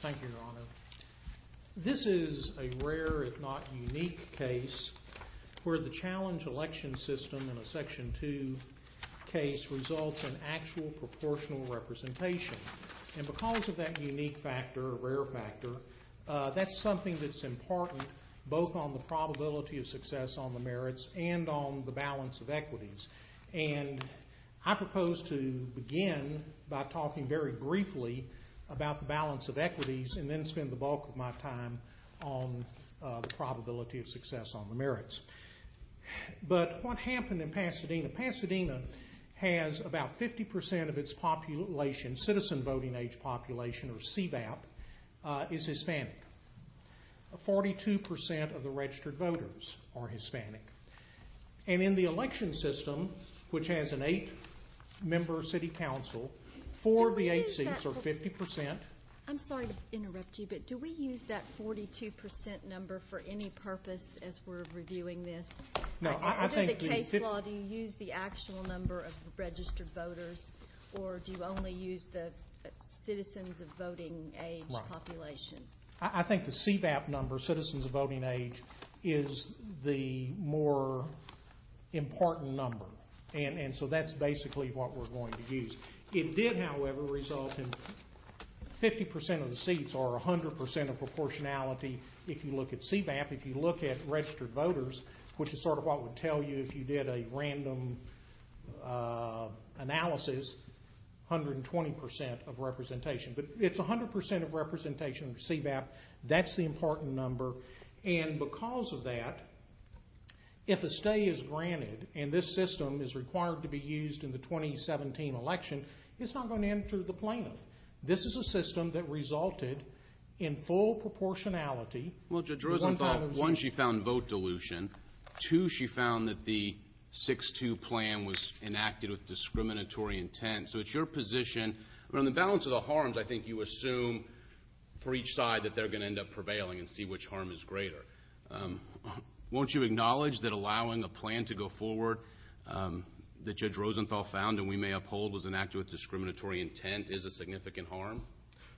Thank you, Your Honor. This is a rare, if not unique, case where the challenge election system in a Section 2 case results in actual proportional representation. And because of that unique factor, a rare factor, that's something that's important both on the probability of success on the merits and on the balance of equities. And I propose to begin by talking very briefly about the balance of equities and then spend the bulk of my time on the probability of success on the merits. But what happened in Pasadena? Pasadena has about 50% of its population, citizen voting age population, or CVAP, is Hispanic. 42% of the registered voters are Hispanic. And in the election system, which has an eight-member city council, four of the eight seats are 50%. I'm sorry to interrupt you, but do we use that 42% number for any purpose as we're reviewing this? Under the case law, do you use the actual number of registered voters, or do you only use the citizens of voting age population? I think the CVAP number, citizens of voting age, is the more important number. And so that's basically what we're going to use. It did, however, result in 50% of the seats are 100% of proportionality if you look at CVAP. If you look at registered voters, which is sort of what would tell you if you did a random analysis, 120% of representation. But it's 100% of representation of CVAP. That's the important number. And because of that, if a stay is granted and this system is required to be used in the 2017 election, it's not going to enter the plaintiff. This is a system that resulted in full proportionality. Well, two, she found that the 6-2 plan was enacted with discriminatory intent. So it's your position, on the balance of the harms, I think you assume for each side that they're going to end up prevailing and see which harm is greater. Won't you acknowledge that allowing a plan to go forward that Judge Rosenthal found and we may uphold was enacted with discriminatory intent is a significant harm?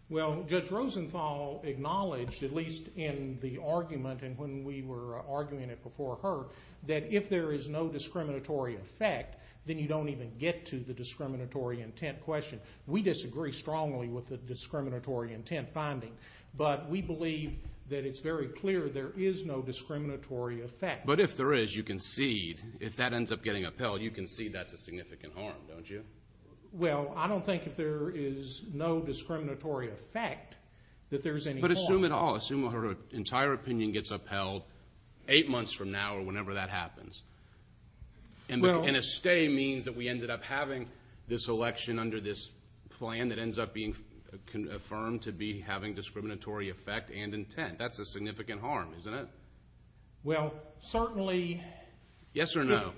Well, Judge Rosenthal acknowledged, at least in the argument and when we were arguing it before her, that if there is no discriminatory effect, then you don't even get to the discriminatory intent question. We disagree strongly with the discriminatory intent finding, but we believe that it's very clear there is no discriminatory effect. But if there is, you concede, if that ends up getting upheld, you concede that's a significant harm, don't you? Well, I don't think if there is no discriminatory effect that there's any harm. But assume at all, assume her entire opinion gets upheld eight months from now or whenever that happens. And a stay means that we ended up having this election under this plan that ends up being affirmed to be having discriminatory effect and intent. That's a significant harm, isn't it? Well, certainly... Yes or no?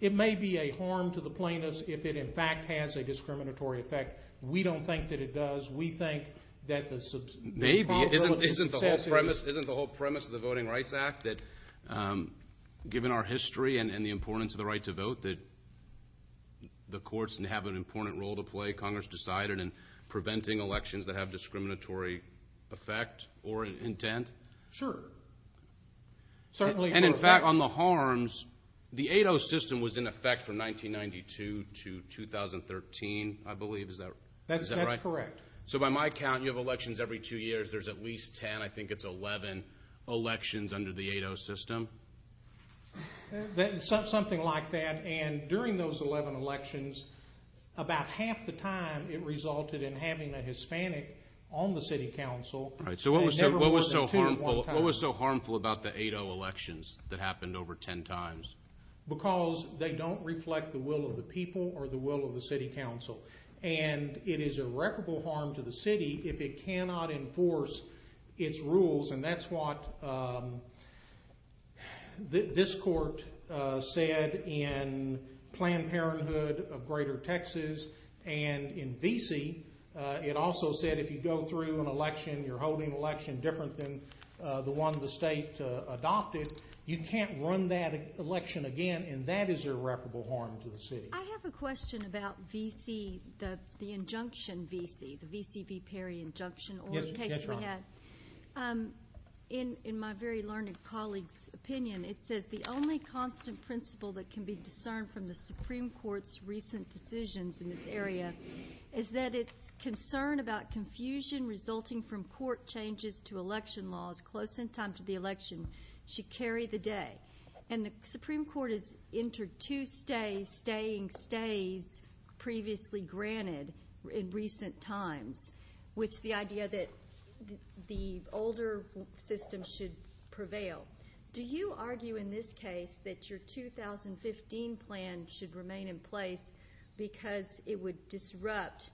It may be a harm to the plaintiffs if it in fact has a discriminatory effect. We don't think that it does. We think that the... Maybe. Isn't the whole premise of the Voting Rights Act that given our history and the importance of the right to vote that the courts have an important role to play, Congress decided in preventing elections that have discriminatory effect or intent? Sure. Certainly. And in fact, on the harms, the 8-0 system was in effect from 1992 to 2013, I believe. Is that right? That's correct. So by my count, you have elections every two years. There's at least 10, I think it's 11, elections under the 8-0 system. Something like that. And during those 11 elections, about half the time it resulted in having a Hispanic on the city council. So what was so harmful about the 8-0 elections that happened over 10 times? Because they don't reflect the will of the people or the will of the city council. And it is a reputable harm to the city if it cannot enforce its rules. And that's what this court said in Planned Parenthood of greater Texas. And in VC, it also said if you go through an election, you're holding an election different than the one the state adopted, you can't run that election again. And that is a reputable harm to the city. I have a question about VC, the injunction VC, the VCB Perry injunction. In my very learned colleague's opinion, it says the only constant principle that can be discerned from the Supreme Court's recent decisions in this area is that it's concern about confusion resulting from court changes to election laws close in time to the election should carry the day. And the Supreme Court has entered two stays, staying stays previously granted in recent times, which the idea that the older system should prevail. Do you argue in this case that your 2015 plan should remain in place because it would disrupt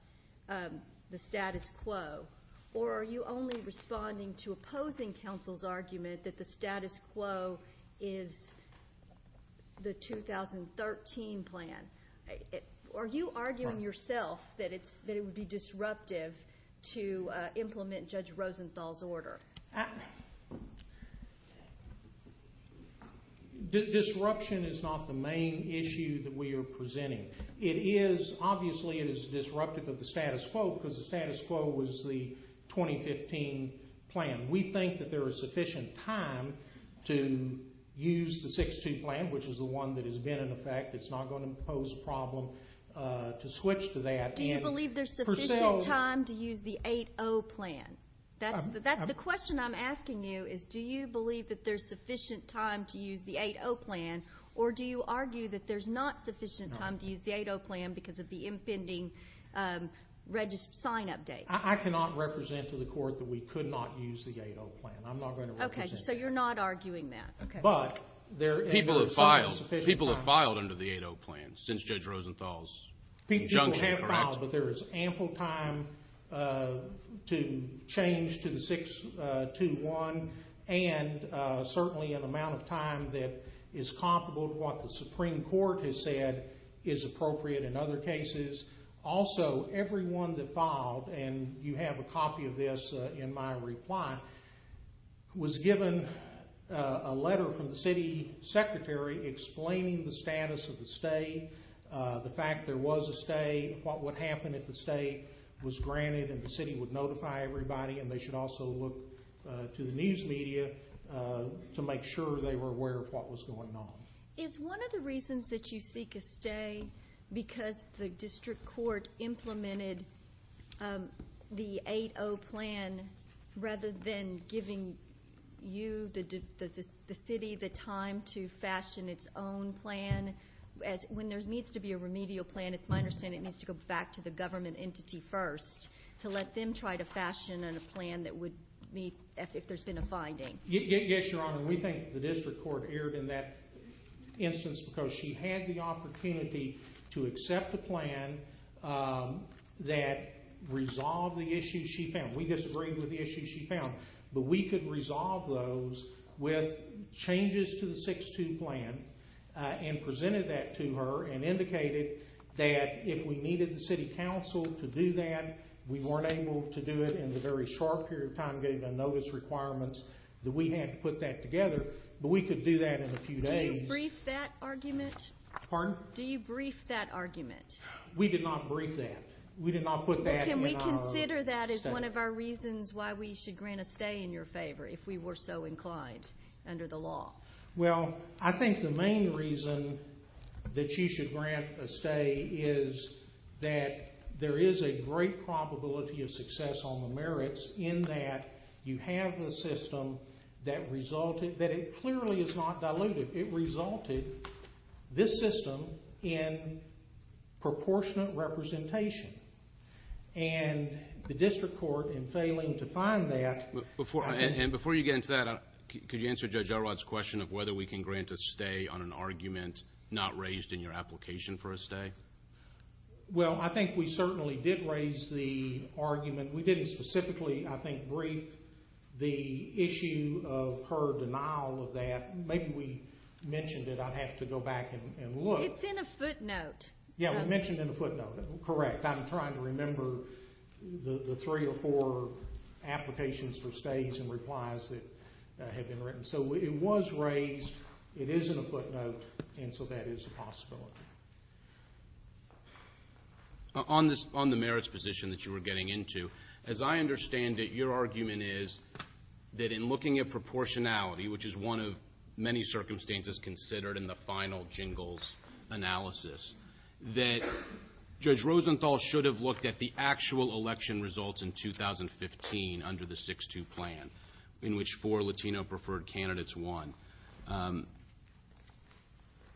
the status quo? Or are you only responding to opposing counsel's argument that the status quo is the 2013 plan? Are you arguing yourself that it's that it would be disruptive to implement Judge Rosenthal's order? Disruption is not the main issue that we are presenting. It is, obviously, it is disruptive of the status quo because the status quo was the 2015 plan. We think that there is sufficient time to use the 6-2 plan, which is the one that has been in effect. It's not going to pose a problem to switch to that. Do you believe there's sufficient time to use the 8-0 plan? That's the question I'm asking you, is do you believe that there's sufficient time to use the 8-0 plan? Or do you argue that there's not sufficient time to use the 8-0 plan because of the impending sign-up date? I cannot represent to the court that we could not use the 8-0 plan. I'm not going to represent that. Okay, so you're not arguing that. People have filed under the 8-0 plan since Judge Rosenthal's juncture. People have filed, but there is ample time to change to the 6-2-1 and certainly an amount of time that is comparable to what the Supreme Court has said is appropriate in other cases. Also, everyone that filed, and you have a copy of this in my reply, was given a letter from the city secretary explaining the status of the stay, the fact there was a stay, what would happen if the stay was granted and the city would notify everybody and they should also look to the news media to make sure they were aware of what was going on. Is one of the reasons that you seek a stay because the district court implemented the 8-0 plan rather than giving you, the city, the time to fashion its own plan? When there needs to be a remedial plan, it's my understanding it needs to go back to the government entity first to let them try to fashion a plan that would meet if there's been a finding. Yes, Your Honor. We think the district court erred in that instance because she had the opportunity to accept a plan that resolved the issues she found. We disagreed with the issues she found, but we could resolve those with changes to the 6-2 plan and presented that to her and indicated that if we needed the city council to do that, we weren't able to do it in the very short period of time given the notice requirements. We had to put that together, but we could do that in a few days. Do you brief that argument? Pardon? Do you brief that argument? We did not brief that. We did not put that in our statement. Before you get into that, could you answer Judge Elrod's question of whether we can grant a stay on an argument not raised in your application for a stay? Well, I think we certainly did raise the argument. We didn't specifically, I think, brief the issue of her denial of that. Maybe we mentioned it. I'd have to go back and look. It's in a footnote. Yeah, we mentioned it in a footnote. Correct. I'm trying to remember the three or four applications for stays and replies that have been written. So it was raised. It is in a footnote, and so that is a possibility. On the merits position that you were getting into, as I understand it, your argument is that in looking at proportionality, which is one of many circumstances considered in the final jingles analysis, that Judge Rosenthal should have looked at the actual election results in 2015 under the 6-2 plan, in which four Latino-preferred candidates won.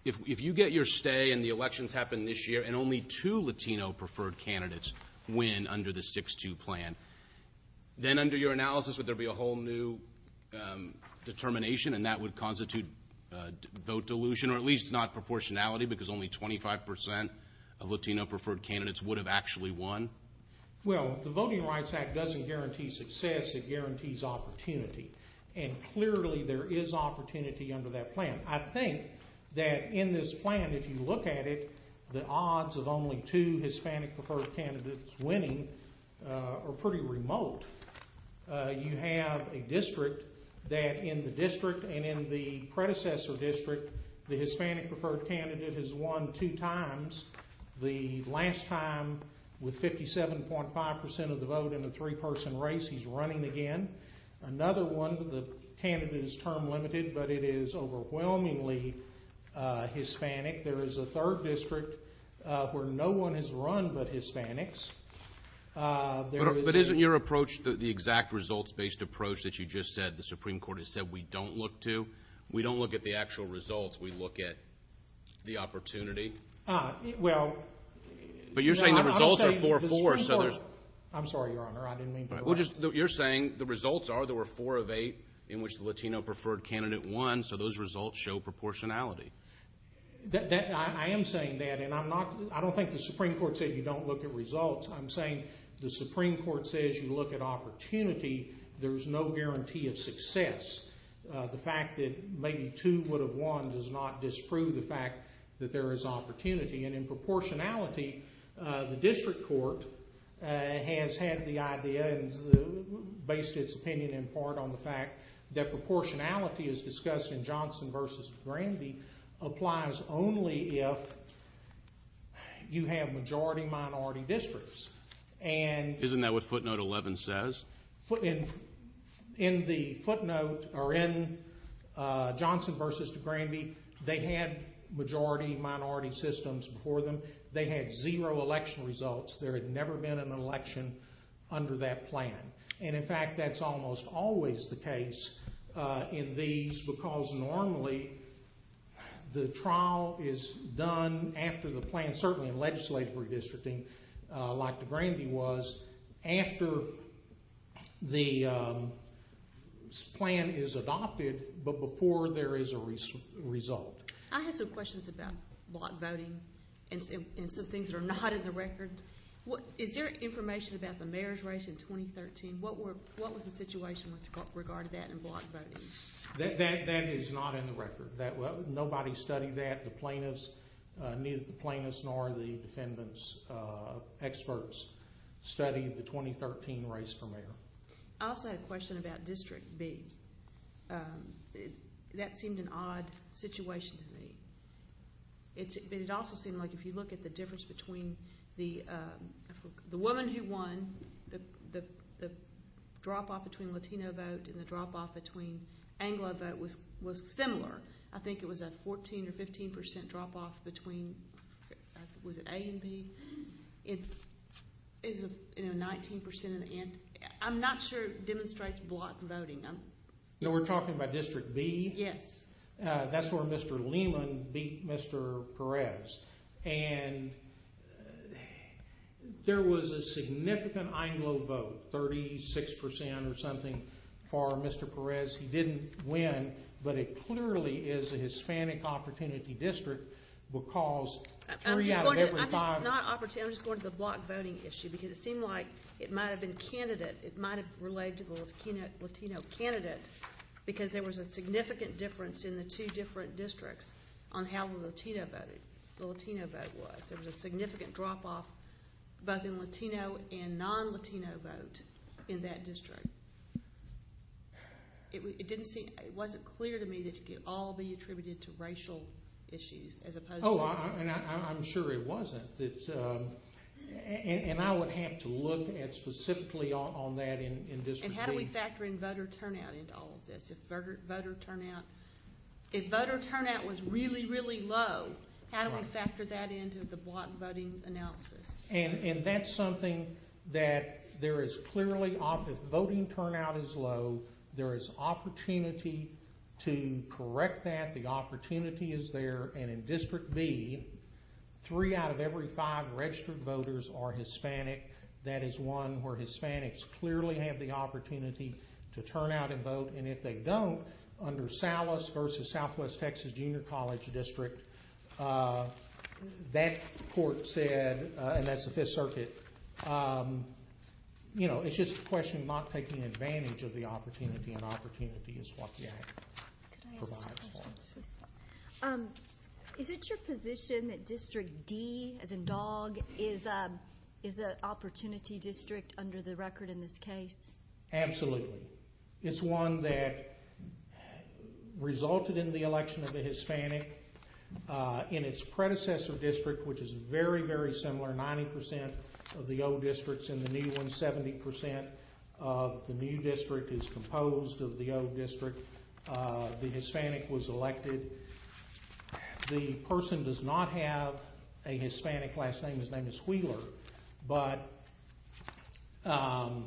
If you get your stay and the elections happen this year and only two Latino-preferred candidates win under the 6-2 plan, then under your analysis would there be a whole new determination, and that would constitute vote delusion or at least not proportionality, because only 25 percent of Latino-preferred candidates would have actually won? Well, the Voting Rights Act doesn't guarantee success. It guarantees opportunity, and clearly there is opportunity under that plan. I think that in this plan, if you look at it, the odds of only two Hispanic-preferred candidates winning are pretty remote. You have a district that in the district and in the predecessor district, the Hispanic-preferred candidate has won two times. The last time, with 57.5 percent of the vote in a three-person race, he's running again. Another one, the candidate is term-limited, but it is overwhelmingly Hispanic. There is a third district where no one has run but Hispanics. But isn't your approach the exact results-based approach that you just said the Supreme Court has said we don't look to? We don't look at the actual results. We look at the opportunity. Well, no. But you're saying the results are 4-4. I'm sorry, Your Honor. I didn't mean to interrupt. You're saying the results are there were four of eight in which the Latino-preferred candidate won, so those results show proportionality. I am saying that, and I don't think the Supreme Court said you don't look at results. I'm saying the Supreme Court says you look at opportunity. There's no guarantee of success. The fact that maybe two would have won does not disprove the fact that there is opportunity. And in proportionality, the district court has had the idea, based its opinion in part on the fact that proportionality is discussed in applies only if you have majority-minority districts. Isn't that what footnote 11 says? In the footnote, or in Johnson v. DeGrande, they had majority-minority systems before them. They had zero election results. There had never been an election under that plan. And in fact, that's almost always the case in these because normally the trial is done after the plan, certainly in legislative redistricting like DeGrande was, after the plan is adopted, but before there is a result. I had some questions about block voting and some things that are not in the record. Is there information about the mayor's race in 2013? What was the situation with regard to that in block voting? That is not in the record. Nobody studied that. The plaintiffs, neither the plaintiffs nor the defendant's experts studied the 2013 race for mayor. I also had a question about District B. That seemed an odd situation to me. It also seemed like if you look at the difference between the woman who won, the drop-off between Latino vote and the drop-off between Anglo vote was similar. I think it was a 14 or 15 percent drop-off between, was it A and B? It was 19 percent. I'm not sure it demonstrates block voting. We're talking about District B? Yes. That's where Mr. Lehman beat Mr. Perez. And there was a significant Anglo vote, 36 percent or something, for Mr. Perez. He didn't win, but it clearly is a Hispanic opportunity district because three out of every five— I'm just going to the block voting issue because it seemed like it might have been candidate. It might have related to the Latino candidate because there was a significant difference in the two different districts on how the Latino vote was. There was a significant drop-off both in Latino and non-Latino vote in that district. It didn't seem, it wasn't clear to me that it could all be attributed to racial issues as opposed to— And how do we factor in voter turnout into all of this? If voter turnout was really, really low, how do we factor that into the block voting analysis? And that's something that there is clearly, if voting turnout is low, there is opportunity to correct that. The opportunity is there. And in District B, three out of every five registered voters are Hispanic. That is one where Hispanics clearly have the opportunity to turn out and vote. And if they don't, under Salas v. Southwest Texas Junior College District, that court said—and that's the Fifth Circuit— you know, it's just a question of not taking advantage of the opportunity, and opportunity is what the Act provides for. Is it your position that District D, as in Dog, is an opportunity district under the record in this case? Absolutely. It's one that resulted in the election of a Hispanic in its predecessor district, which is very, very similar. Ninety percent of the old district's in the new one. Seventy percent of the new district is composed of the old district. The Hispanic was elected. The person does not have a Hispanic last name. His name is Wheeler, but he won.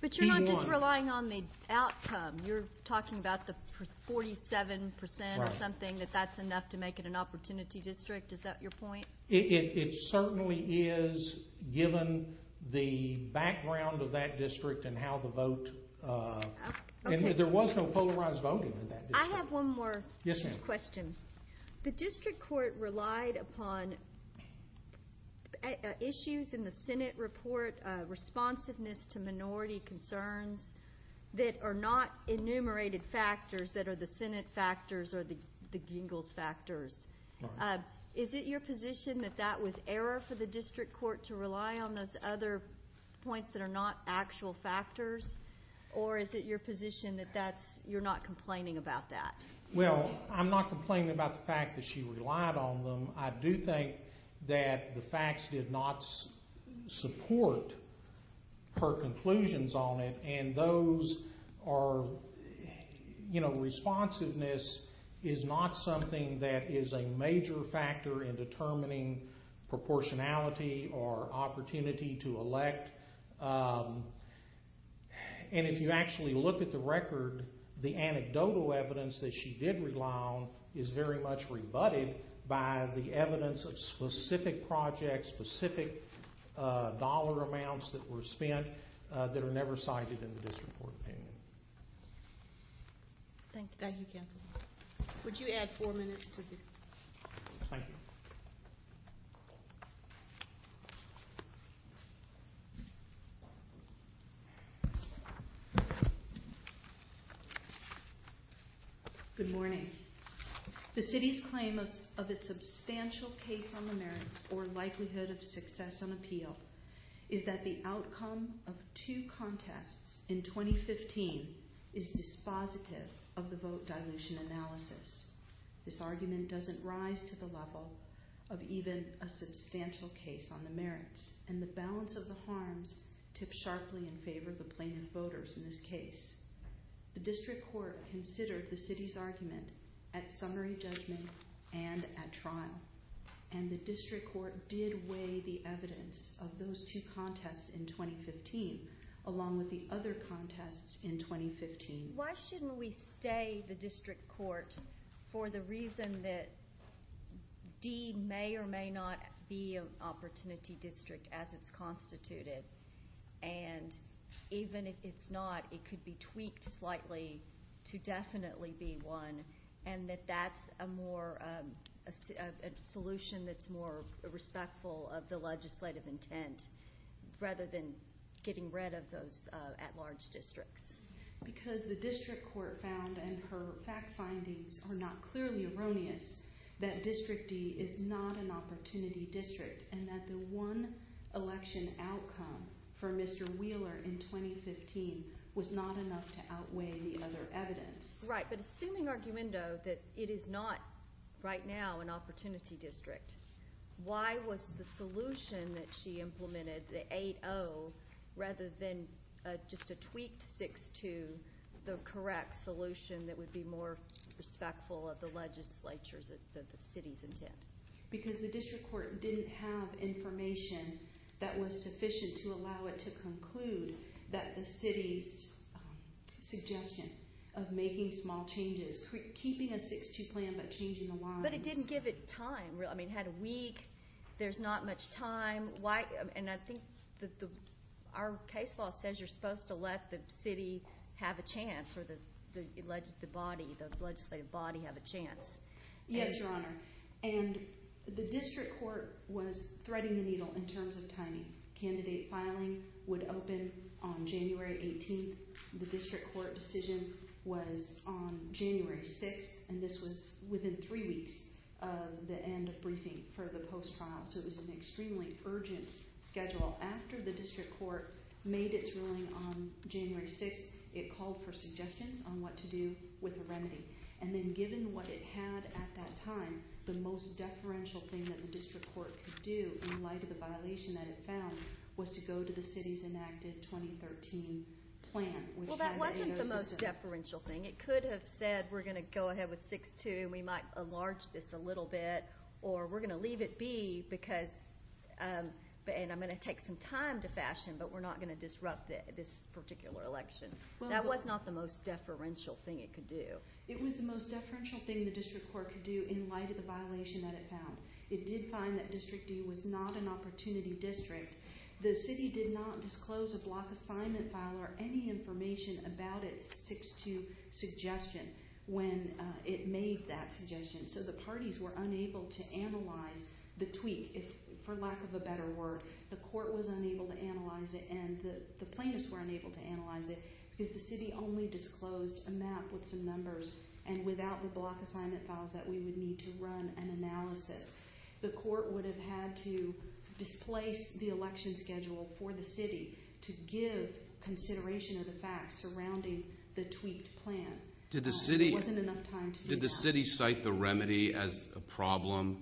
But you're not just relying on the outcome. You're talking about the 47 percent or something, that that's enough to make it an opportunity district. Is that your point? It certainly is, given the background of that district and how the vote— I have one more question. The district court relied upon issues in the Senate report, responsiveness to minority concerns, that are not enumerated factors that are the Senate factors or the Gingell's factors. Is it your position that that was error for the district court to rely on those other points that are not actual factors? Or is it your position that that's—you're not complaining about that? Well, I'm not complaining about the fact that she relied on them. I do think that the facts did not support her conclusions on it. And those are—you know, responsiveness is not something that is a major factor in determining proportionality or opportunity to elect. And if you actually look at the record, the anecdotal evidence that she did rely on is very much rebutted by the evidence of specific projects, specific dollar amounts that were spent that are never cited in the district court opinion. Thank you, counsel. Would you add four minutes to the— Thank you. Good morning. The city's claim of a substantial case on the merits or likelihood of success on appeal is that the outcome of two contests in 2015 is dispositive of the vote dilution analysis. This argument doesn't rise to the level of even a substantial case on the merits. And the balance of the harms tips sharply in favor of the plaintiff voters in this case. The district court considered the city's argument at summary judgment and at trial. And the district court did weigh the evidence of those two contests in 2015 along with the other contests in 2015. Why shouldn't we stay the district court for the reason that D may or may not be an opportunity district as it's constituted? And even if it's not, it could be tweaked slightly to definitely be one and that that's a more—a solution that's more respectful of the legislative intent rather than getting rid of those at-large districts? Because the district court found, and her fact findings are not clearly erroneous, that District D is not an opportunity district and that the one election outcome for Mr. Wheeler in 2015 was not enough to outweigh the other evidence. Right, but assuming argumento that it is not right now an opportunity district, why was the solution that she implemented, the 8-0, rather than just a tweaked 6-2, the correct solution that would be more respectful of the legislature's—the city's intent? Because the district court didn't have information that was sufficient to allow it to conclude that the city's suggestion of making small changes, keeping a 6-2 plan but changing the lines— But it didn't give it time. I mean, it had a week. There's not much time. And I think our case law says you're supposed to let the city have a chance or the legislative body have a chance. Yes, Your Honor, and the district court was threading the needle in terms of timing. Candidate filing would open on January 18. The district court decision was on January 6, and this was within three weeks of the end of briefing for the post-trial. So it was an extremely urgent schedule. After the district court made its ruling on January 6, it called for suggestions on what to do with the remedy. And then given what it had at that time, the most deferential thing that the district court could do in light of the violation that it found was to go to the city's enacted 2013 plan. Well, that wasn't the most deferential thing. It could have said, we're going to go ahead with 6-2, and we might enlarge this a little bit, or we're going to leave it be, and I'm going to take some time to fashion, but we're not going to disrupt this particular election. That was not the most deferential thing it could do. It was the most deferential thing the district court could do in light of the violation that it found. It did find that District D was not an opportunity district. The city did not disclose a block assignment file or any information about its 6-2 suggestion when it made that suggestion. So the parties were unable to analyze the tweak, for lack of a better word. The court was unable to analyze it, and the plaintiffs were unable to analyze it because the city only disclosed a map with some numbers, and without the block assignment files that we would need to run an analysis. The court would have had to displace the election schedule for the city to give consideration of the facts surrounding the tweaked plan. It wasn't enough time to do that. Did the city cite the remedy as a problem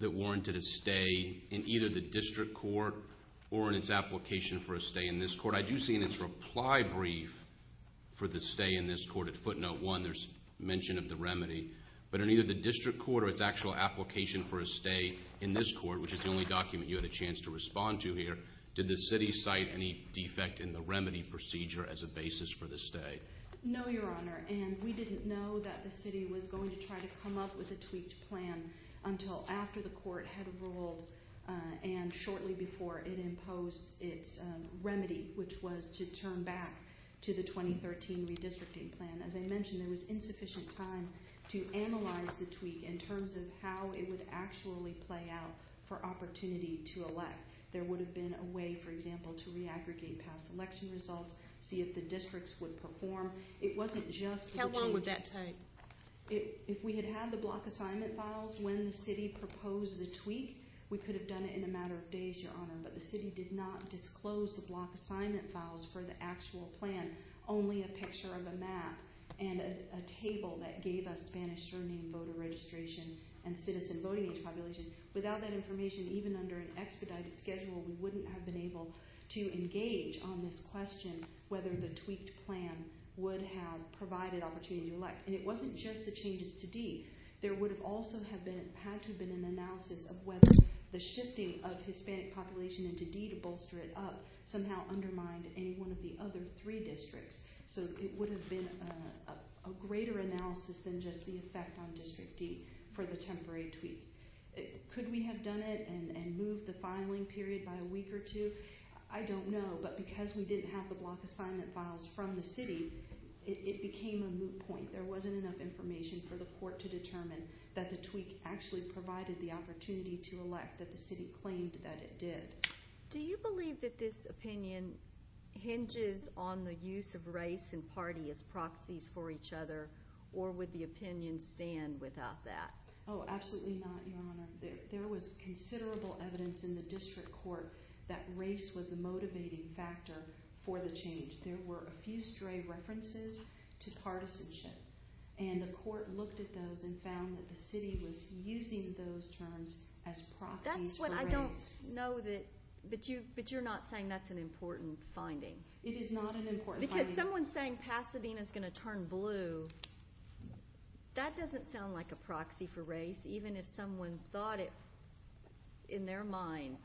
that warranted a stay in either the district court or in its application for a stay in this court? I do see in its reply brief for the stay in this court at footnote 1 there's mention of the remedy, but in either the district court or its actual application for a stay in this court, which is the only document you had a chance to respond to here, did the city cite any defect in the remedy procedure as a basis for the stay? No, Your Honor, and we didn't know that the city was going to try to come up with a tweaked plan until after the court had ruled and shortly before it imposed its remedy, which was to turn back to the 2013 redistricting plan. As I mentioned, there was insufficient time to analyze the tweak in terms of how it would actually play out for opportunity to elect. There would have been a way, for example, to re-aggregate past election results, see if the districts would perform. How long would that take? If we had had the block assignment files when the city proposed the tweak, we could have done it in a matter of days, Your Honor, but the city did not disclose the block assignment files for the actual plan, only a picture of a map and a table that gave us Spanish surname, voter registration, and citizen voting age population. Without that information, even under an expedited schedule, we wouldn't have been able to engage on this question whether the tweaked plan would have provided opportunity to elect. And it wasn't just the changes to D. There would have also had to have been an analysis of whether the shifting of Hispanic population into D to bolster it up somehow undermined any one of the other three districts. So it would have been a greater analysis than just the effect on District D for the temporary tweak. Could we have done it and moved the filing period by a week or two? I don't know, but because we didn't have the block assignment files from the city, it became a moot point. There wasn't enough information for the court to determine that the tweak actually provided the opportunity to elect that the city claimed that it did. Do you believe that this opinion hinges on the use of race and party as proxies for each other, or would the opinion stand without that? Oh, absolutely not, Your Honor. There was considerable evidence in the district court that race was a motivating factor for the change. There were a few stray references to partisanship, and the court looked at those and found that the city was using those terms as proxies for race. That's what I don't know, but you're not saying that's an important finding. It is not an important finding. Because someone saying Pasadena's going to turn blue, that doesn't sound like a proxy for race, even if someone thought it in their mind.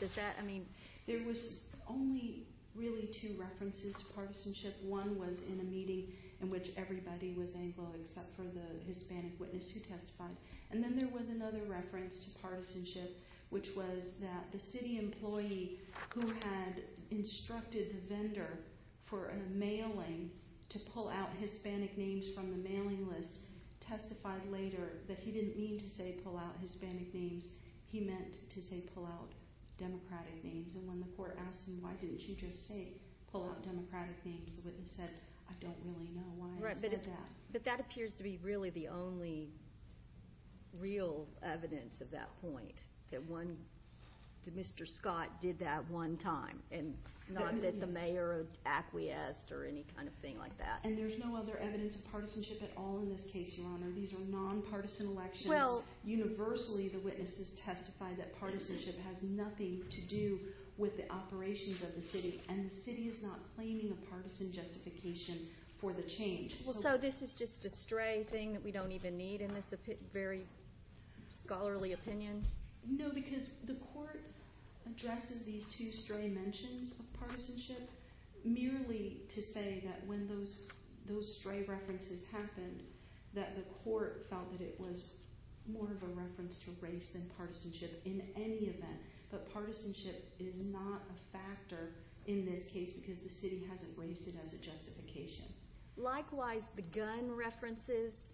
There was only really two references to partisanship. One was in a meeting in which everybody was Anglo except for the Hispanic witness who testified. And then there was another reference to partisanship, which was that the city employee who had instructed the vendor for a mailing to pull out Hispanic names from the mailing list testified later that he didn't mean to say pull out Hispanic names. He meant to say pull out Democratic names. And when the court asked him, why didn't you just say pull out Democratic names, the witness said, I don't really know why I said that. But that appears to be really the only real evidence of that point, that Mr. Scott did that one time, and not that the mayor acquiesced or any kind of thing like that. And there's no other evidence of partisanship at all in this case, Your Honor. These are nonpartisan elections. Universally the witnesses testified that partisanship has nothing to do with the operations of the city, and the city is not claiming a partisan justification for the change. So this is just a stray thing that we don't even need in this very scholarly opinion? No, because the court addresses these two stray mentions of partisanship merely to say that when those stray references happened that the court felt that it was more of a reference to race than partisanship in any event. But partisanship is not a factor in this case because the city hasn't raised it as a justification. Likewise, the gun references,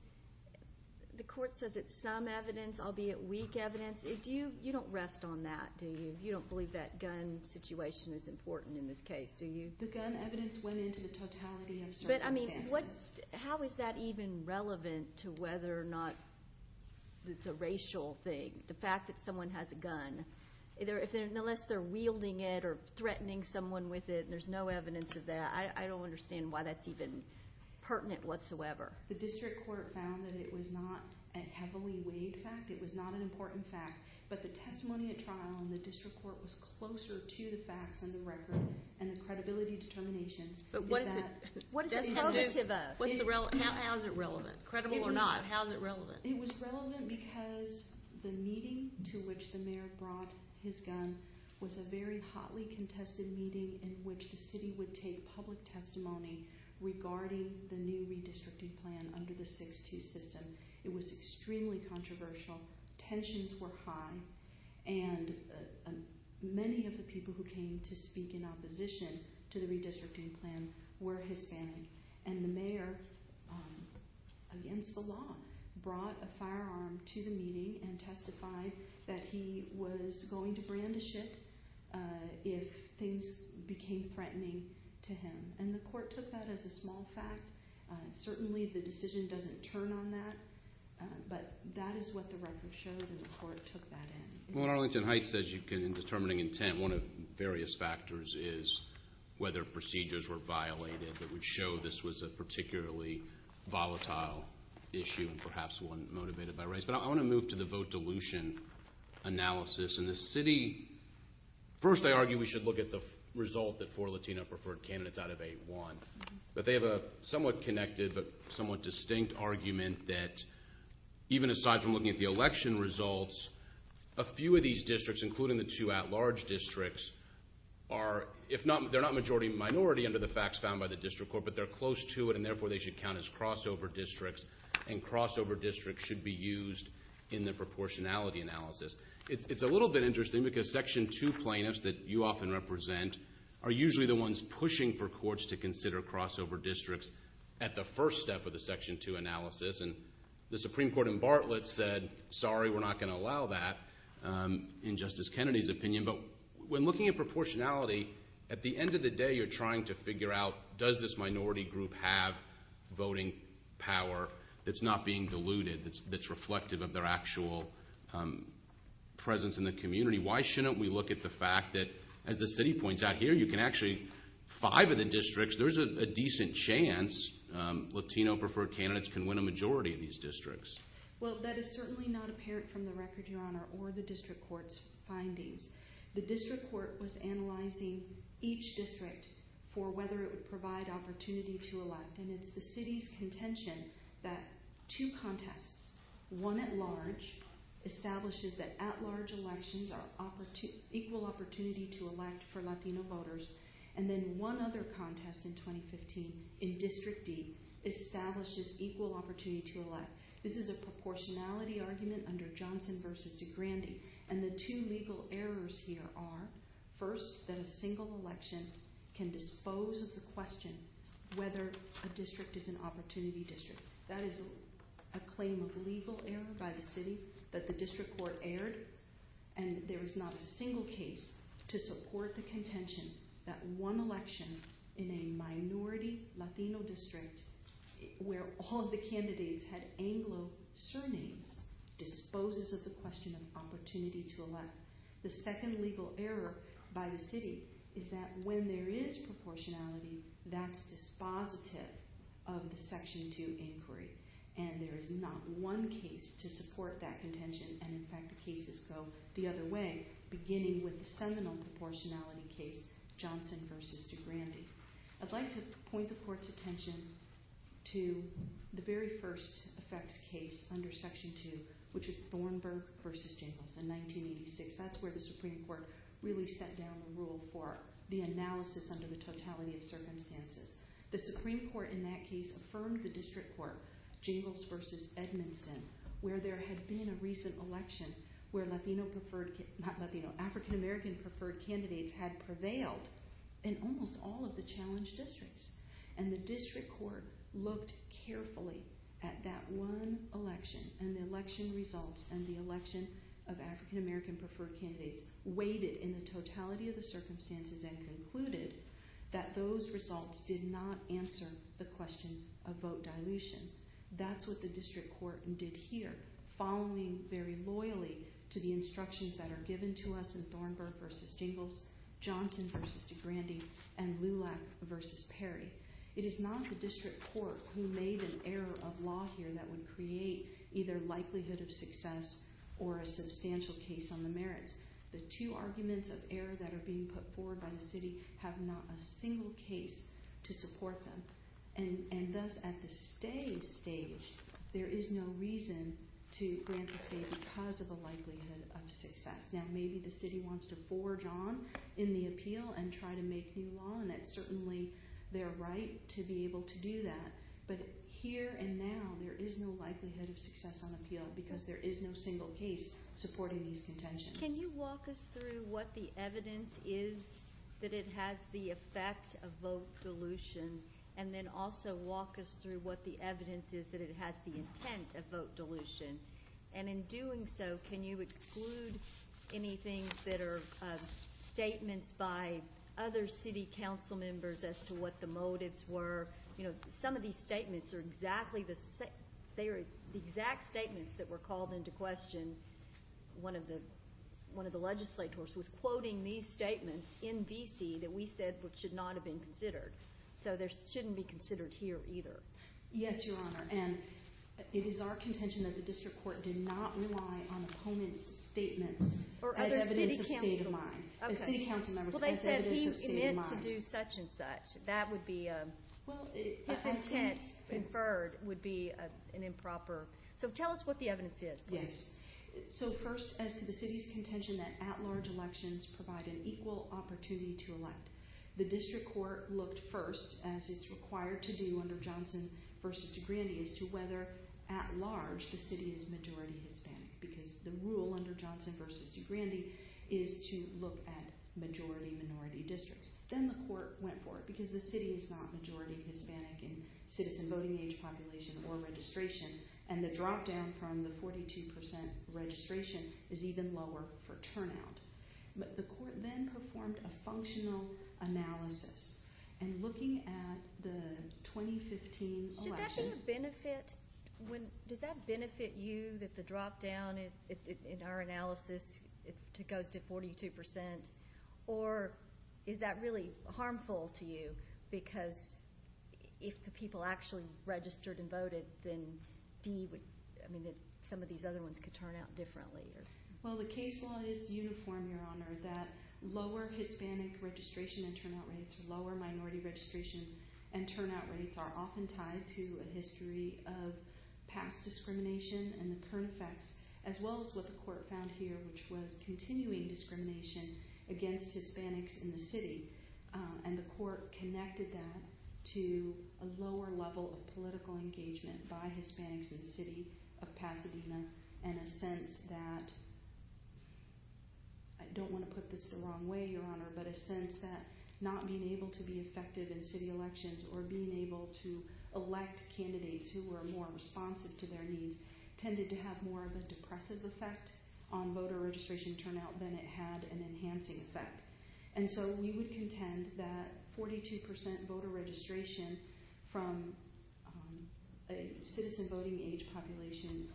the court says it's some evidence, albeit weak evidence. You don't rest on that, do you? You don't believe that gun situation is important in this case, do you? The gun evidence went into the totality of circumstances. How is that even relevant to whether or not it's a racial thing? The fact that someone has a gun, unless they're wielding it or threatening someone with it, and there's no evidence of that, I don't understand why that's even pertinent whatsoever. The district court found that it was not a heavily weighed fact. It was not an important fact, but the testimony at trial in the district court was closer to the facts and the record and the credibility determinations. But what is it? How is it relevant? Credible or not, how is it relevant? It was relevant because the meeting to which the mayor brought his gun was a very hotly contested meeting in which the city would take public testimony regarding the new redistricting plan under the 6-2 system. It was extremely controversial, tensions were high, and many of the people who came to speak in opposition to the redistricting plan were Hispanic. And the mayor, against the law, brought a firearm to the meeting and testified that he was going to brand a ship if things became threatening to him. And the court took that as a small fact. Certainly the decision doesn't turn on that, but that is what the record showed and the court took that in. Well, Arlington Heights says you can, in determining intent, one of various factors is whether procedures were violated that would show this was a particularly volatile issue and perhaps one motivated by race. But I want to move to the vote dilution analysis. And the city, first I argue we should look at the result that four Latino preferred candidates out of eight won. But they have a somewhat connected but somewhat distinct argument that even aside from looking at the election results, a few of these districts, including the two at-large districts, they're not majority minority under the facts found by the district court, but they're close to it, and therefore they should count as crossover districts, and crossover districts should be used in the proportionality analysis. It's a little bit interesting because Section 2 plaintiffs that you often represent are usually the ones pushing for courts to consider crossover districts at the first step of the Section 2 analysis, and the Supreme Court in Bartlett said, sorry, we're not going to allow that in Justice Kennedy's opinion. But when looking at proportionality, at the end of the day, you're trying to figure out does this minority group have voting power that's not being diluted, that's reflective of their actual presence in the community. Why shouldn't we look at the fact that, as the city points out here, you can actually, five of the districts, there's a decent chance Latino-preferred candidates can win a majority in these districts. Well, that is certainly not apparent from the record, Your Honor, or the district court's findings. The district court was analyzing each district for whether it would provide opportunity to elect, and it's the city's contention that two contests, one at-large establishes that at-large elections are equal opportunity to elect for Latino voters, and then one other contest in 2015 in District D establishes equal opportunity to elect. This is a proportionality argument under Johnson v. DeGrande, and the two legal errors here are, first, that a single election can dispose of the question whether a district is an opportunity district. That is a claim of legal error by the city that the district court aired, and there is not a single case to support the contention that one election in a minority Latino district where all of the candidates had Anglo surnames disposes of the question of opportunity to elect. The second legal error by the city is that when there is proportionality, that's dispositive of the Section 2 inquiry, and there is not one case to support that contention, and in fact the cases go the other way, beginning with the seminal proportionality case, Johnson v. DeGrande. I'd like to point the court's attention to the very first effects case under Section 2, which is Thornburg v. Jangles in 1986. That's where the Supreme Court really set down the rule for the analysis under the totality of circumstances. The Supreme Court in that case affirmed the district court, Jangles v. Edmundson, where there had been a recent election where African-American preferred candidates had prevailed in almost all of the challenged districts, and the district court looked carefully at that one election and the election results and the election of African-American preferred candidates weighted in the totality of the circumstances and concluded that those results did not answer the question of vote dilution. That's what the district court did here, following very loyally to the instructions that are given to us in Thornburg v. Jangles, Johnson v. DeGrande, and Lulac v. Perry. It is not the district court who made an error of law here that would create either likelihood of success or a substantial case on the merits. The two arguments of error that are being put forward by the city have not a single case to support them, and thus at the state stage there is no reason to grant the state because of the likelihood of success. Now maybe the city wants to forge on in the appeal and try to make new law, and it's certainly their right to be able to do that, but here and now there is no likelihood of success on appeal because there is no single case supporting these contentions. Can you walk us through what the evidence is that it has the effect of vote dilution and then also walk us through what the evidence is that it has the intent of vote dilution? And in doing so, can you exclude anything that are statements by other city council members as to what the motives were? Some of these statements are exactly the same. The exact statements that were called into question, one of the legislators was quoting these statements in V.C. that we said should not have been considered. So they shouldn't be considered here either. Yes, Your Honor, and it is our contention that the district court did not rely on opponents' statements as evidence of state of mind. As city council members, as evidence of state of mind. Well, they said he meant to do such and such. His intent inferred would be an improper. So tell us what the evidence is, please. So first, as to the city's contention that at-large elections provide an equal opportunity to elect, the district court looked first, as it's required to do under Johnson v. DeGrande, as to whether at-large the city is majority Hispanic because the rule under Johnson v. DeGrande is to look at majority-minority districts. Then the court went for it because the city is not majority Hispanic in citizen voting age population or registration, But the court then performed a functional analysis. And looking at the 2015 election... Should that be a benefit? Does that benefit you that the drop-down in our analysis goes to 42%? Or is that really harmful to you because if the people actually registered and voted, then some of these other ones could turn out differently? Well, the case law is uniform, Your Honor, that lower Hispanic registration and turnout rates, lower minority registration and turnout rates are often tied to a history of past discrimination and the current facts, as well as what the court found here, which was continuing discrimination against Hispanics in the city. And the court connected that to a lower level of political engagement by Hispanics in the city of Pasadena and a sense that... I don't want to put this the wrong way, Your Honor, but a sense that not being able to be effective in city elections or being able to elect candidates who were more responsive to their needs tended to have more of a depressive effect on voter registration turnout than it had an enhancing effect. And so we would contend that 42% voter registration from a citizen voting age population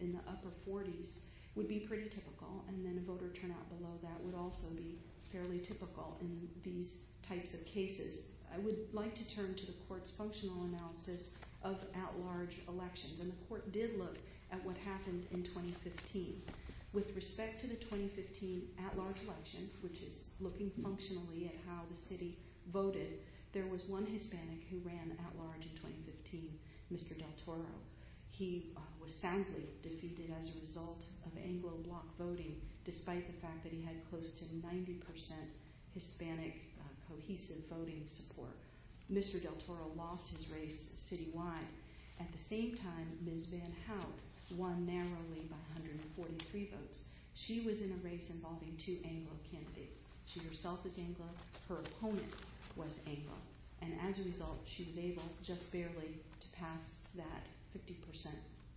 in the upper 40s would be pretty typical, and then a voter turnout below that would also be fairly typical in these types of cases. I would like to turn to the court's functional analysis of at-large elections, and the court did look at what happened in 2015. With respect to the 2015 at-large election, which is looking functionally at how the city voted, there was one Hispanic who ran at-large in 2015, Mr. Del Toro. He was soundly defeated as a result of Anglo block voting, despite the fact that he had close to 90% Hispanic cohesive voting support. Mr. Del Toro lost his race citywide. At the same time, Ms. Van Hout won narrowly by 143 votes. She was in a race involving two Anglo candidates. She herself is Anglo. Her opponent was Anglo. And as a result, she was able just barely to pass that 50%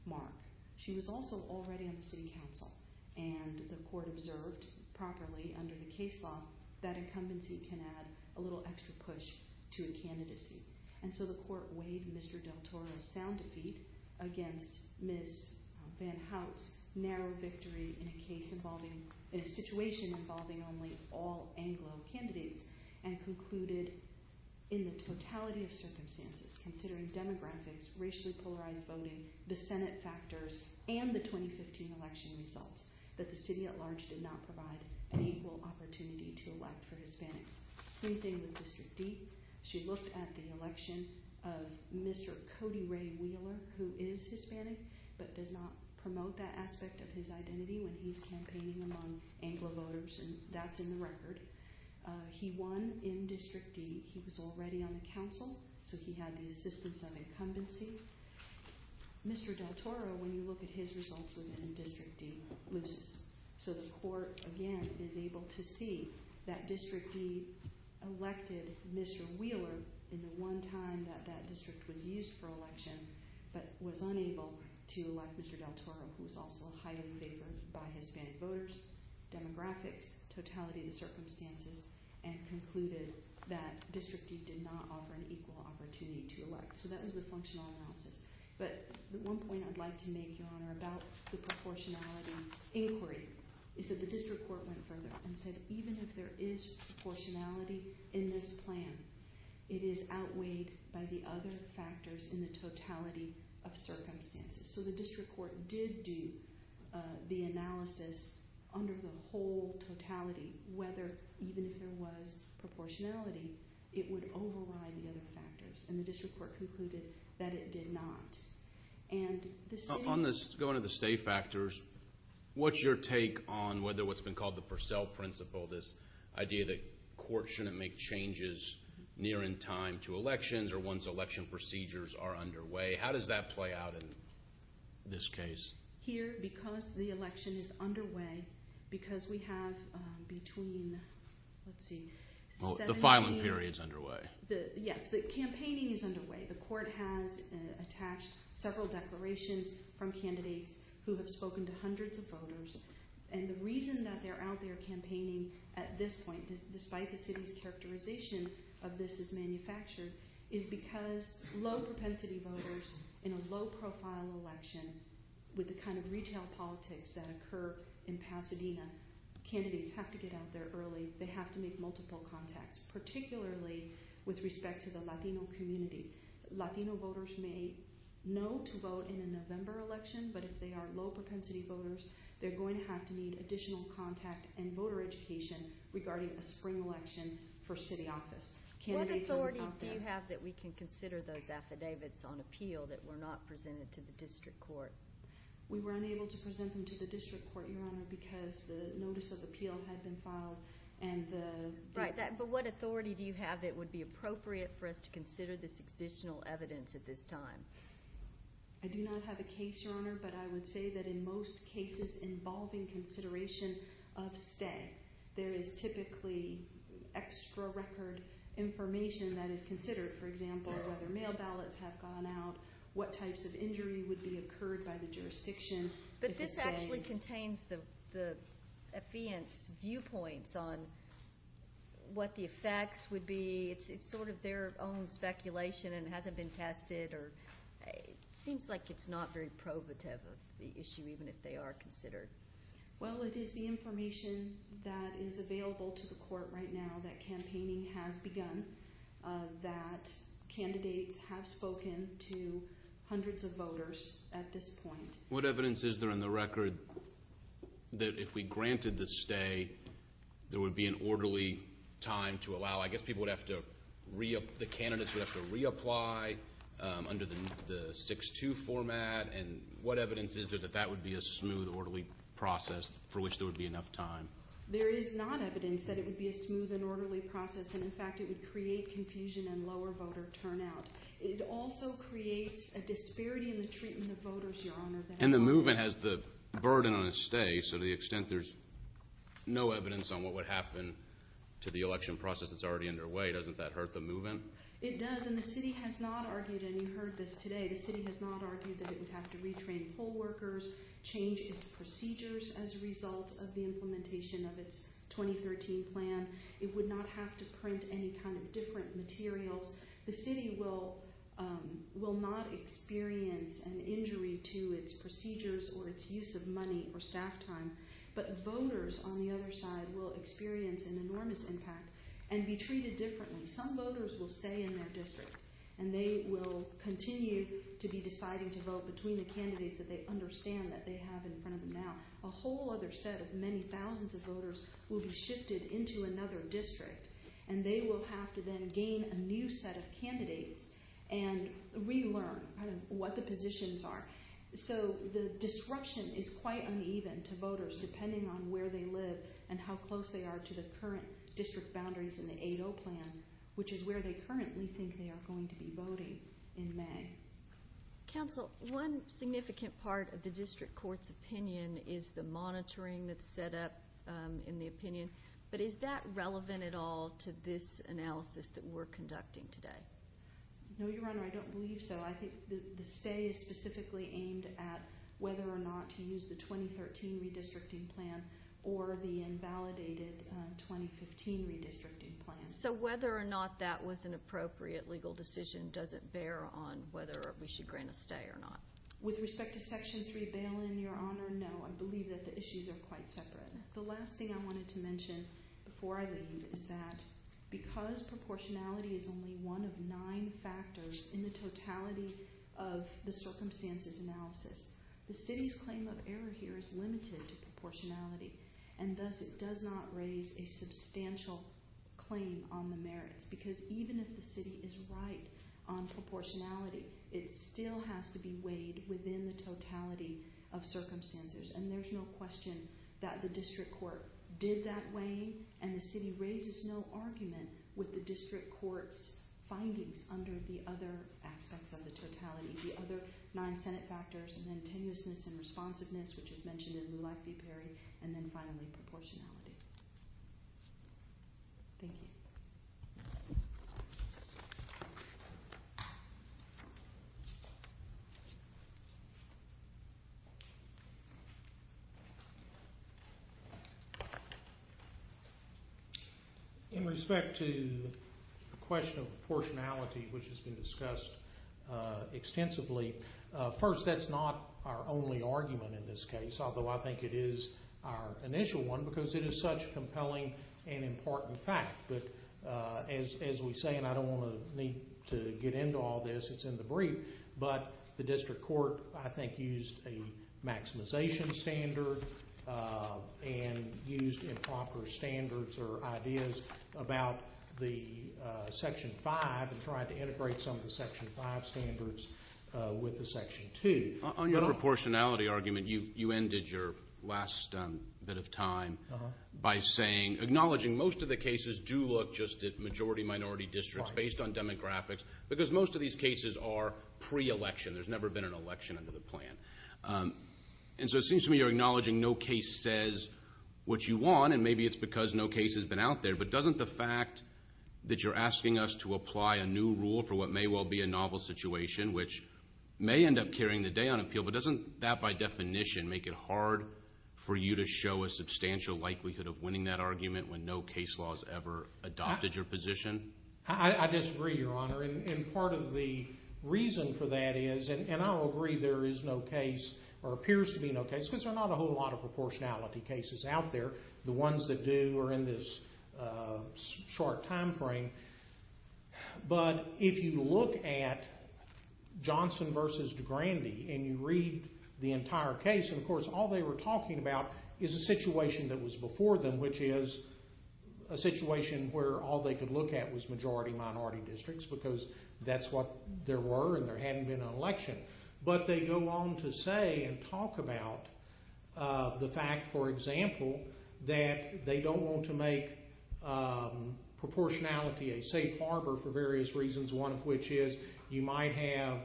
mark. She was also already on the city council, and the court observed properly under the case law that incumbency can add a little extra push to a candidacy. And so the court weighed Mr. Del Toro's sound defeat against Ms. Van Hout's narrow victory in a case involving a situation involving only all Anglo candidates, and concluded in the totality of circumstances, considering demographics, racially polarized voting, the Senate factors, and the 2015 election results, that the city at-large did not provide an equal opportunity to elect for Hispanics. Same thing with District D. She looked at the election of Mr. Cody Ray Wheeler, who is Hispanic, but does not promote that aspect of his identity when he's campaigning among Anglo voters, and that's in the record. He won in District D. He was already on the council, so he had the assistance of incumbency. Mr. Del Toro, when you look at his results within District D, loses. So the court, again, is able to see that District D elected Mr. Wheeler in the one time that that district was used for election, but was unable to elect Mr. Del Toro, who was also highly favored by Hispanic voters, demographics, totality of the circumstances, and concluded that District D did not offer an equal opportunity to elect. So that was the functional analysis. But one point I'd like to make, Your Honor, about the proportionality inquiry is that the district court went further and said, even if there is proportionality in this plan, it is outweighed by the other factors in the totality of circumstances. So the district court did do the analysis under the whole totality, whether even if there was proportionality, it would override the other factors, and the district court concluded that it did not. On going to the stay factors, what's your take on whether what's been called the Purcell principle, this idea that courts shouldn't make changes near in time to elections or once election procedures are underway, how does that play out in this case? Here, because the election is underway, because we have between, let's see, 17. The filing period is underway. Yes, the campaigning is underway. The court has attached several declarations from candidates who have spoken to hundreds of voters, and the reason that they're out there campaigning at this point, despite the city's characterization of this as manufactured, is because low-propensity voters in a low-profile election with the kind of retail politics that occur in Pasadena, candidates have to get out there early. They have to make multiple contacts, particularly with respect to the Latino community. Latino voters may know to vote in a November election, but if they are low-propensity voters, they're going to have to need additional contact and voter education regarding a spring election for city office. What authority do you have that we can consider those affidavits on appeal that were not presented to the district court? We were unable to present them to the district court, Your Honor, because the notice of appeal had been filed. But what authority do you have that would be appropriate for us to consider this additional evidence at this time? I do not have a case, Your Honor, but I would say that in most cases involving consideration of stay, there is typically extra record information that is considered. For example, if other mail ballots have gone out, what types of injury would be occurred by the jurisdiction if it stays. But this actually contains the affidavit's viewpoints on what the effects would be. It's sort of their own speculation, and it hasn't been tested. It seems like it's not very probative of the issue, even if they are considered. Well, it is the information that is available to the court right now that campaigning has begun, that candidates have spoken to hundreds of voters at this point. What evidence is there in the record that if we granted the stay, there would be an orderly time to allow? I guess the candidates would have to reapply under the 6-2 format, and what evidence is there that that would be a smooth, orderly process for which there would be enough time? There is not evidence that it would be a smooth and orderly process, and, in fact, it would create confusion and lower voter turnout. It also creates a disparity in the treatment of voters, Your Honor. And the movement has the burden on a stay, so to the extent there's no evidence on what would happen to the election process that's already underway, doesn't that hurt the movement? It does, and the city has not argued, and you heard this today, the city has not argued that it would have to retrain poll workers, change its procedures as a result of the implementation of its 2013 plan. It would not have to print any kind of different materials. The city will not experience an injury to its procedures or its use of money or staff time, but voters on the other side will experience an enormous impact and be treated differently. Some voters will stay in their district, and they will continue to be deciding to vote between the candidates that they understand that they have in front of them now. A whole other set of many thousands of voters will be shifted into another district, and they will have to then gain a new set of candidates and relearn what the positions are. So the disruption is quite uneven to voters depending on where they live and how close they are to the current district boundaries in the 8-0 plan, which is where they currently think they are going to be voting in May. Counsel, one significant part of the district court's opinion is the monitoring that's set up in the opinion, but is that relevant at all to this analysis that we're conducting today? No, Your Honor, I don't believe so. I think the stay is specifically aimed at whether or not to use the 2013 redistricting plan or the invalidated 2015 redistricting plan. So whether or not that was an appropriate legal decision doesn't bear on whether we should grant a stay or not? With respect to Section 3 bail-in, Your Honor, no. I believe that the issues are quite separate. The last thing I wanted to mention before I leave is that because proportionality is only one of nine factors in the totality of the circumstances analysis, the city's claim of error here is limited to proportionality, and thus it does not raise a substantial claim on the merits because even if the city is right on proportionality, it still has to be weighed within the totality of circumstances, and there's no question that the district court did that weighing, and the city raises no argument with the district court's findings under the other aspects of the totality, the other nine Senate factors, and then tenuousness and responsiveness, which is mentioned in Lulife v. Perry, and then finally proportionality. Thank you. Thank you. In respect to the question of proportionality, which has been discussed extensively, first, that's not our only argument in this case, although I think it is our initial one because it is such a compelling and important fact that as we say, and I don't want to get into all this, it's in the brief, but the district court I think used a maximization standard and used improper standards or ideas about the Section 5 and tried to integrate some of the Section 5 standards with the Section 2. On your proportionality argument, you ended your last bit of time by saying, acknowledging most of the cases do look just at majority-minority districts based on demographics because most of these cases are pre-election. There's never been an election under the plan. And so it seems to me you're acknowledging no case says what you want, and maybe it's because no case has been out there, but doesn't the fact that you're asking us to apply a new rule for what may well be a novel situation, which may end up carrying the day on appeal, but doesn't that by definition make it hard for you to show a substantial likelihood of winning that argument when no case law has ever adopted your position? I disagree, Your Honor, and part of the reason for that is, and I will agree there is no case or appears to be no case because there are not a whole lot of proportionality cases out there. The ones that do are in this short time frame. But if you look at Johnson v. DeGrande and you read the entire case, and of course all they were talking about is a situation that was before them, which is a situation where all they could look at was majority-minority districts because that's what there were and there hadn't been an election. But they go on to say and talk about the fact, for example, that they don't want to make proportionality a safe harbor for various reasons, one of which is you might have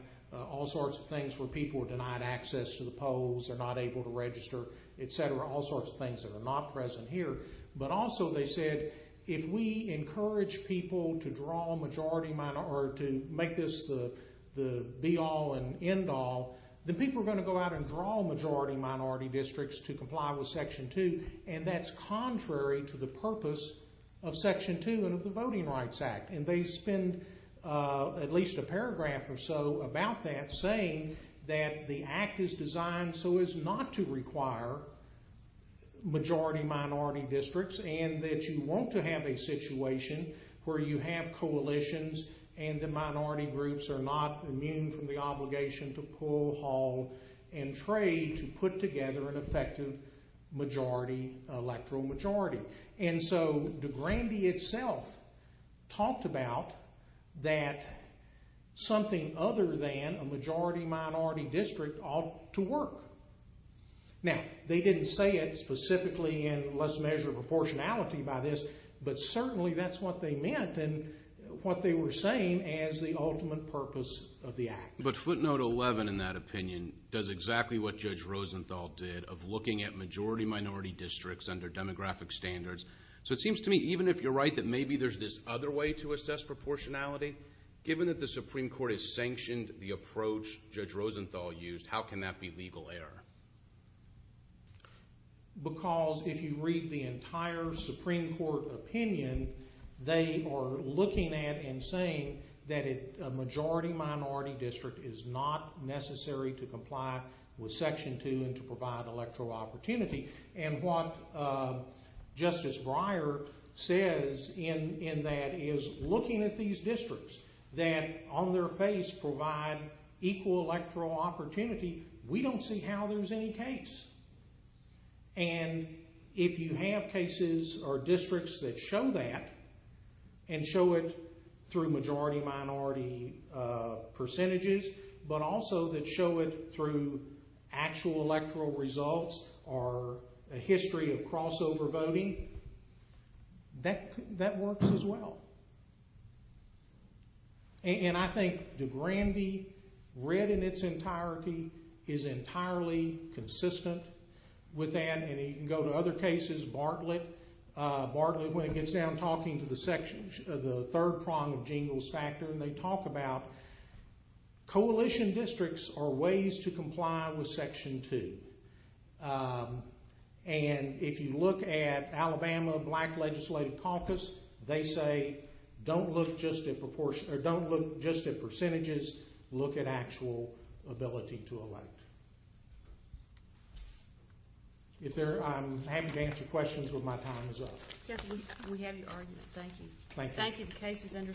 all sorts of things where people are denied access to the polls, they're not able to register, et cetera, all sorts of things that are not present here. But also they said if we encourage people to draw majority-minority or to make this the be-all and end-all, then people are going to go out and draw majority-minority districts to comply with Section 2, and that's contrary to the purpose of Section 2 and of the Voting Rights Act. And they spend at least a paragraph or so about that saying that the Act is designed so as not to require majority-minority districts and that you want to have a situation where you have coalitions and the minority groups are not immune from the obligation to pull, haul, and trade to put together an effective majority, electoral majority. And so de Grande itself talked about that something other than a majority-minority district ought to work. Now, they didn't say it specifically in let's measure proportionality by this, but certainly that's what they meant and what they were saying as the ultimate purpose of the Act. But footnote 11 in that opinion does exactly what Judge Rosenthal did of looking at majority-minority districts under demographic standards. So it seems to me, even if you're right, that maybe there's this other way to assess proportionality. Given that the Supreme Court has sanctioned the approach Judge Rosenthal used, how can that be legal error? Because if you read the entire Supreme Court opinion, they are looking at and saying that a majority-minority district is not necessary to comply with Section 2 and to provide electoral opportunity. And what Justice Breyer says in that is looking at these districts that on their face provide equal electoral opportunity, we don't see how there's any case. And if you have cases or districts that show that and show it through majority-minority percentages, but also that show it through actual electoral results or a history of crossover voting, that works as well. And I think DeGrande read in its entirety is entirely consistent with that. And you can go to other cases. Bartlett, when it gets down to talking to the third prong of Jingles Factor, and they talk about coalition districts are ways to comply with Section 2. And if you look at Alabama Black Legislative Caucus, they say don't look just at percentages. Look at actual ability to elect. I'm happy to answer questions when my time is up. We have your argument. Thank you. Thank you. The case is under submission.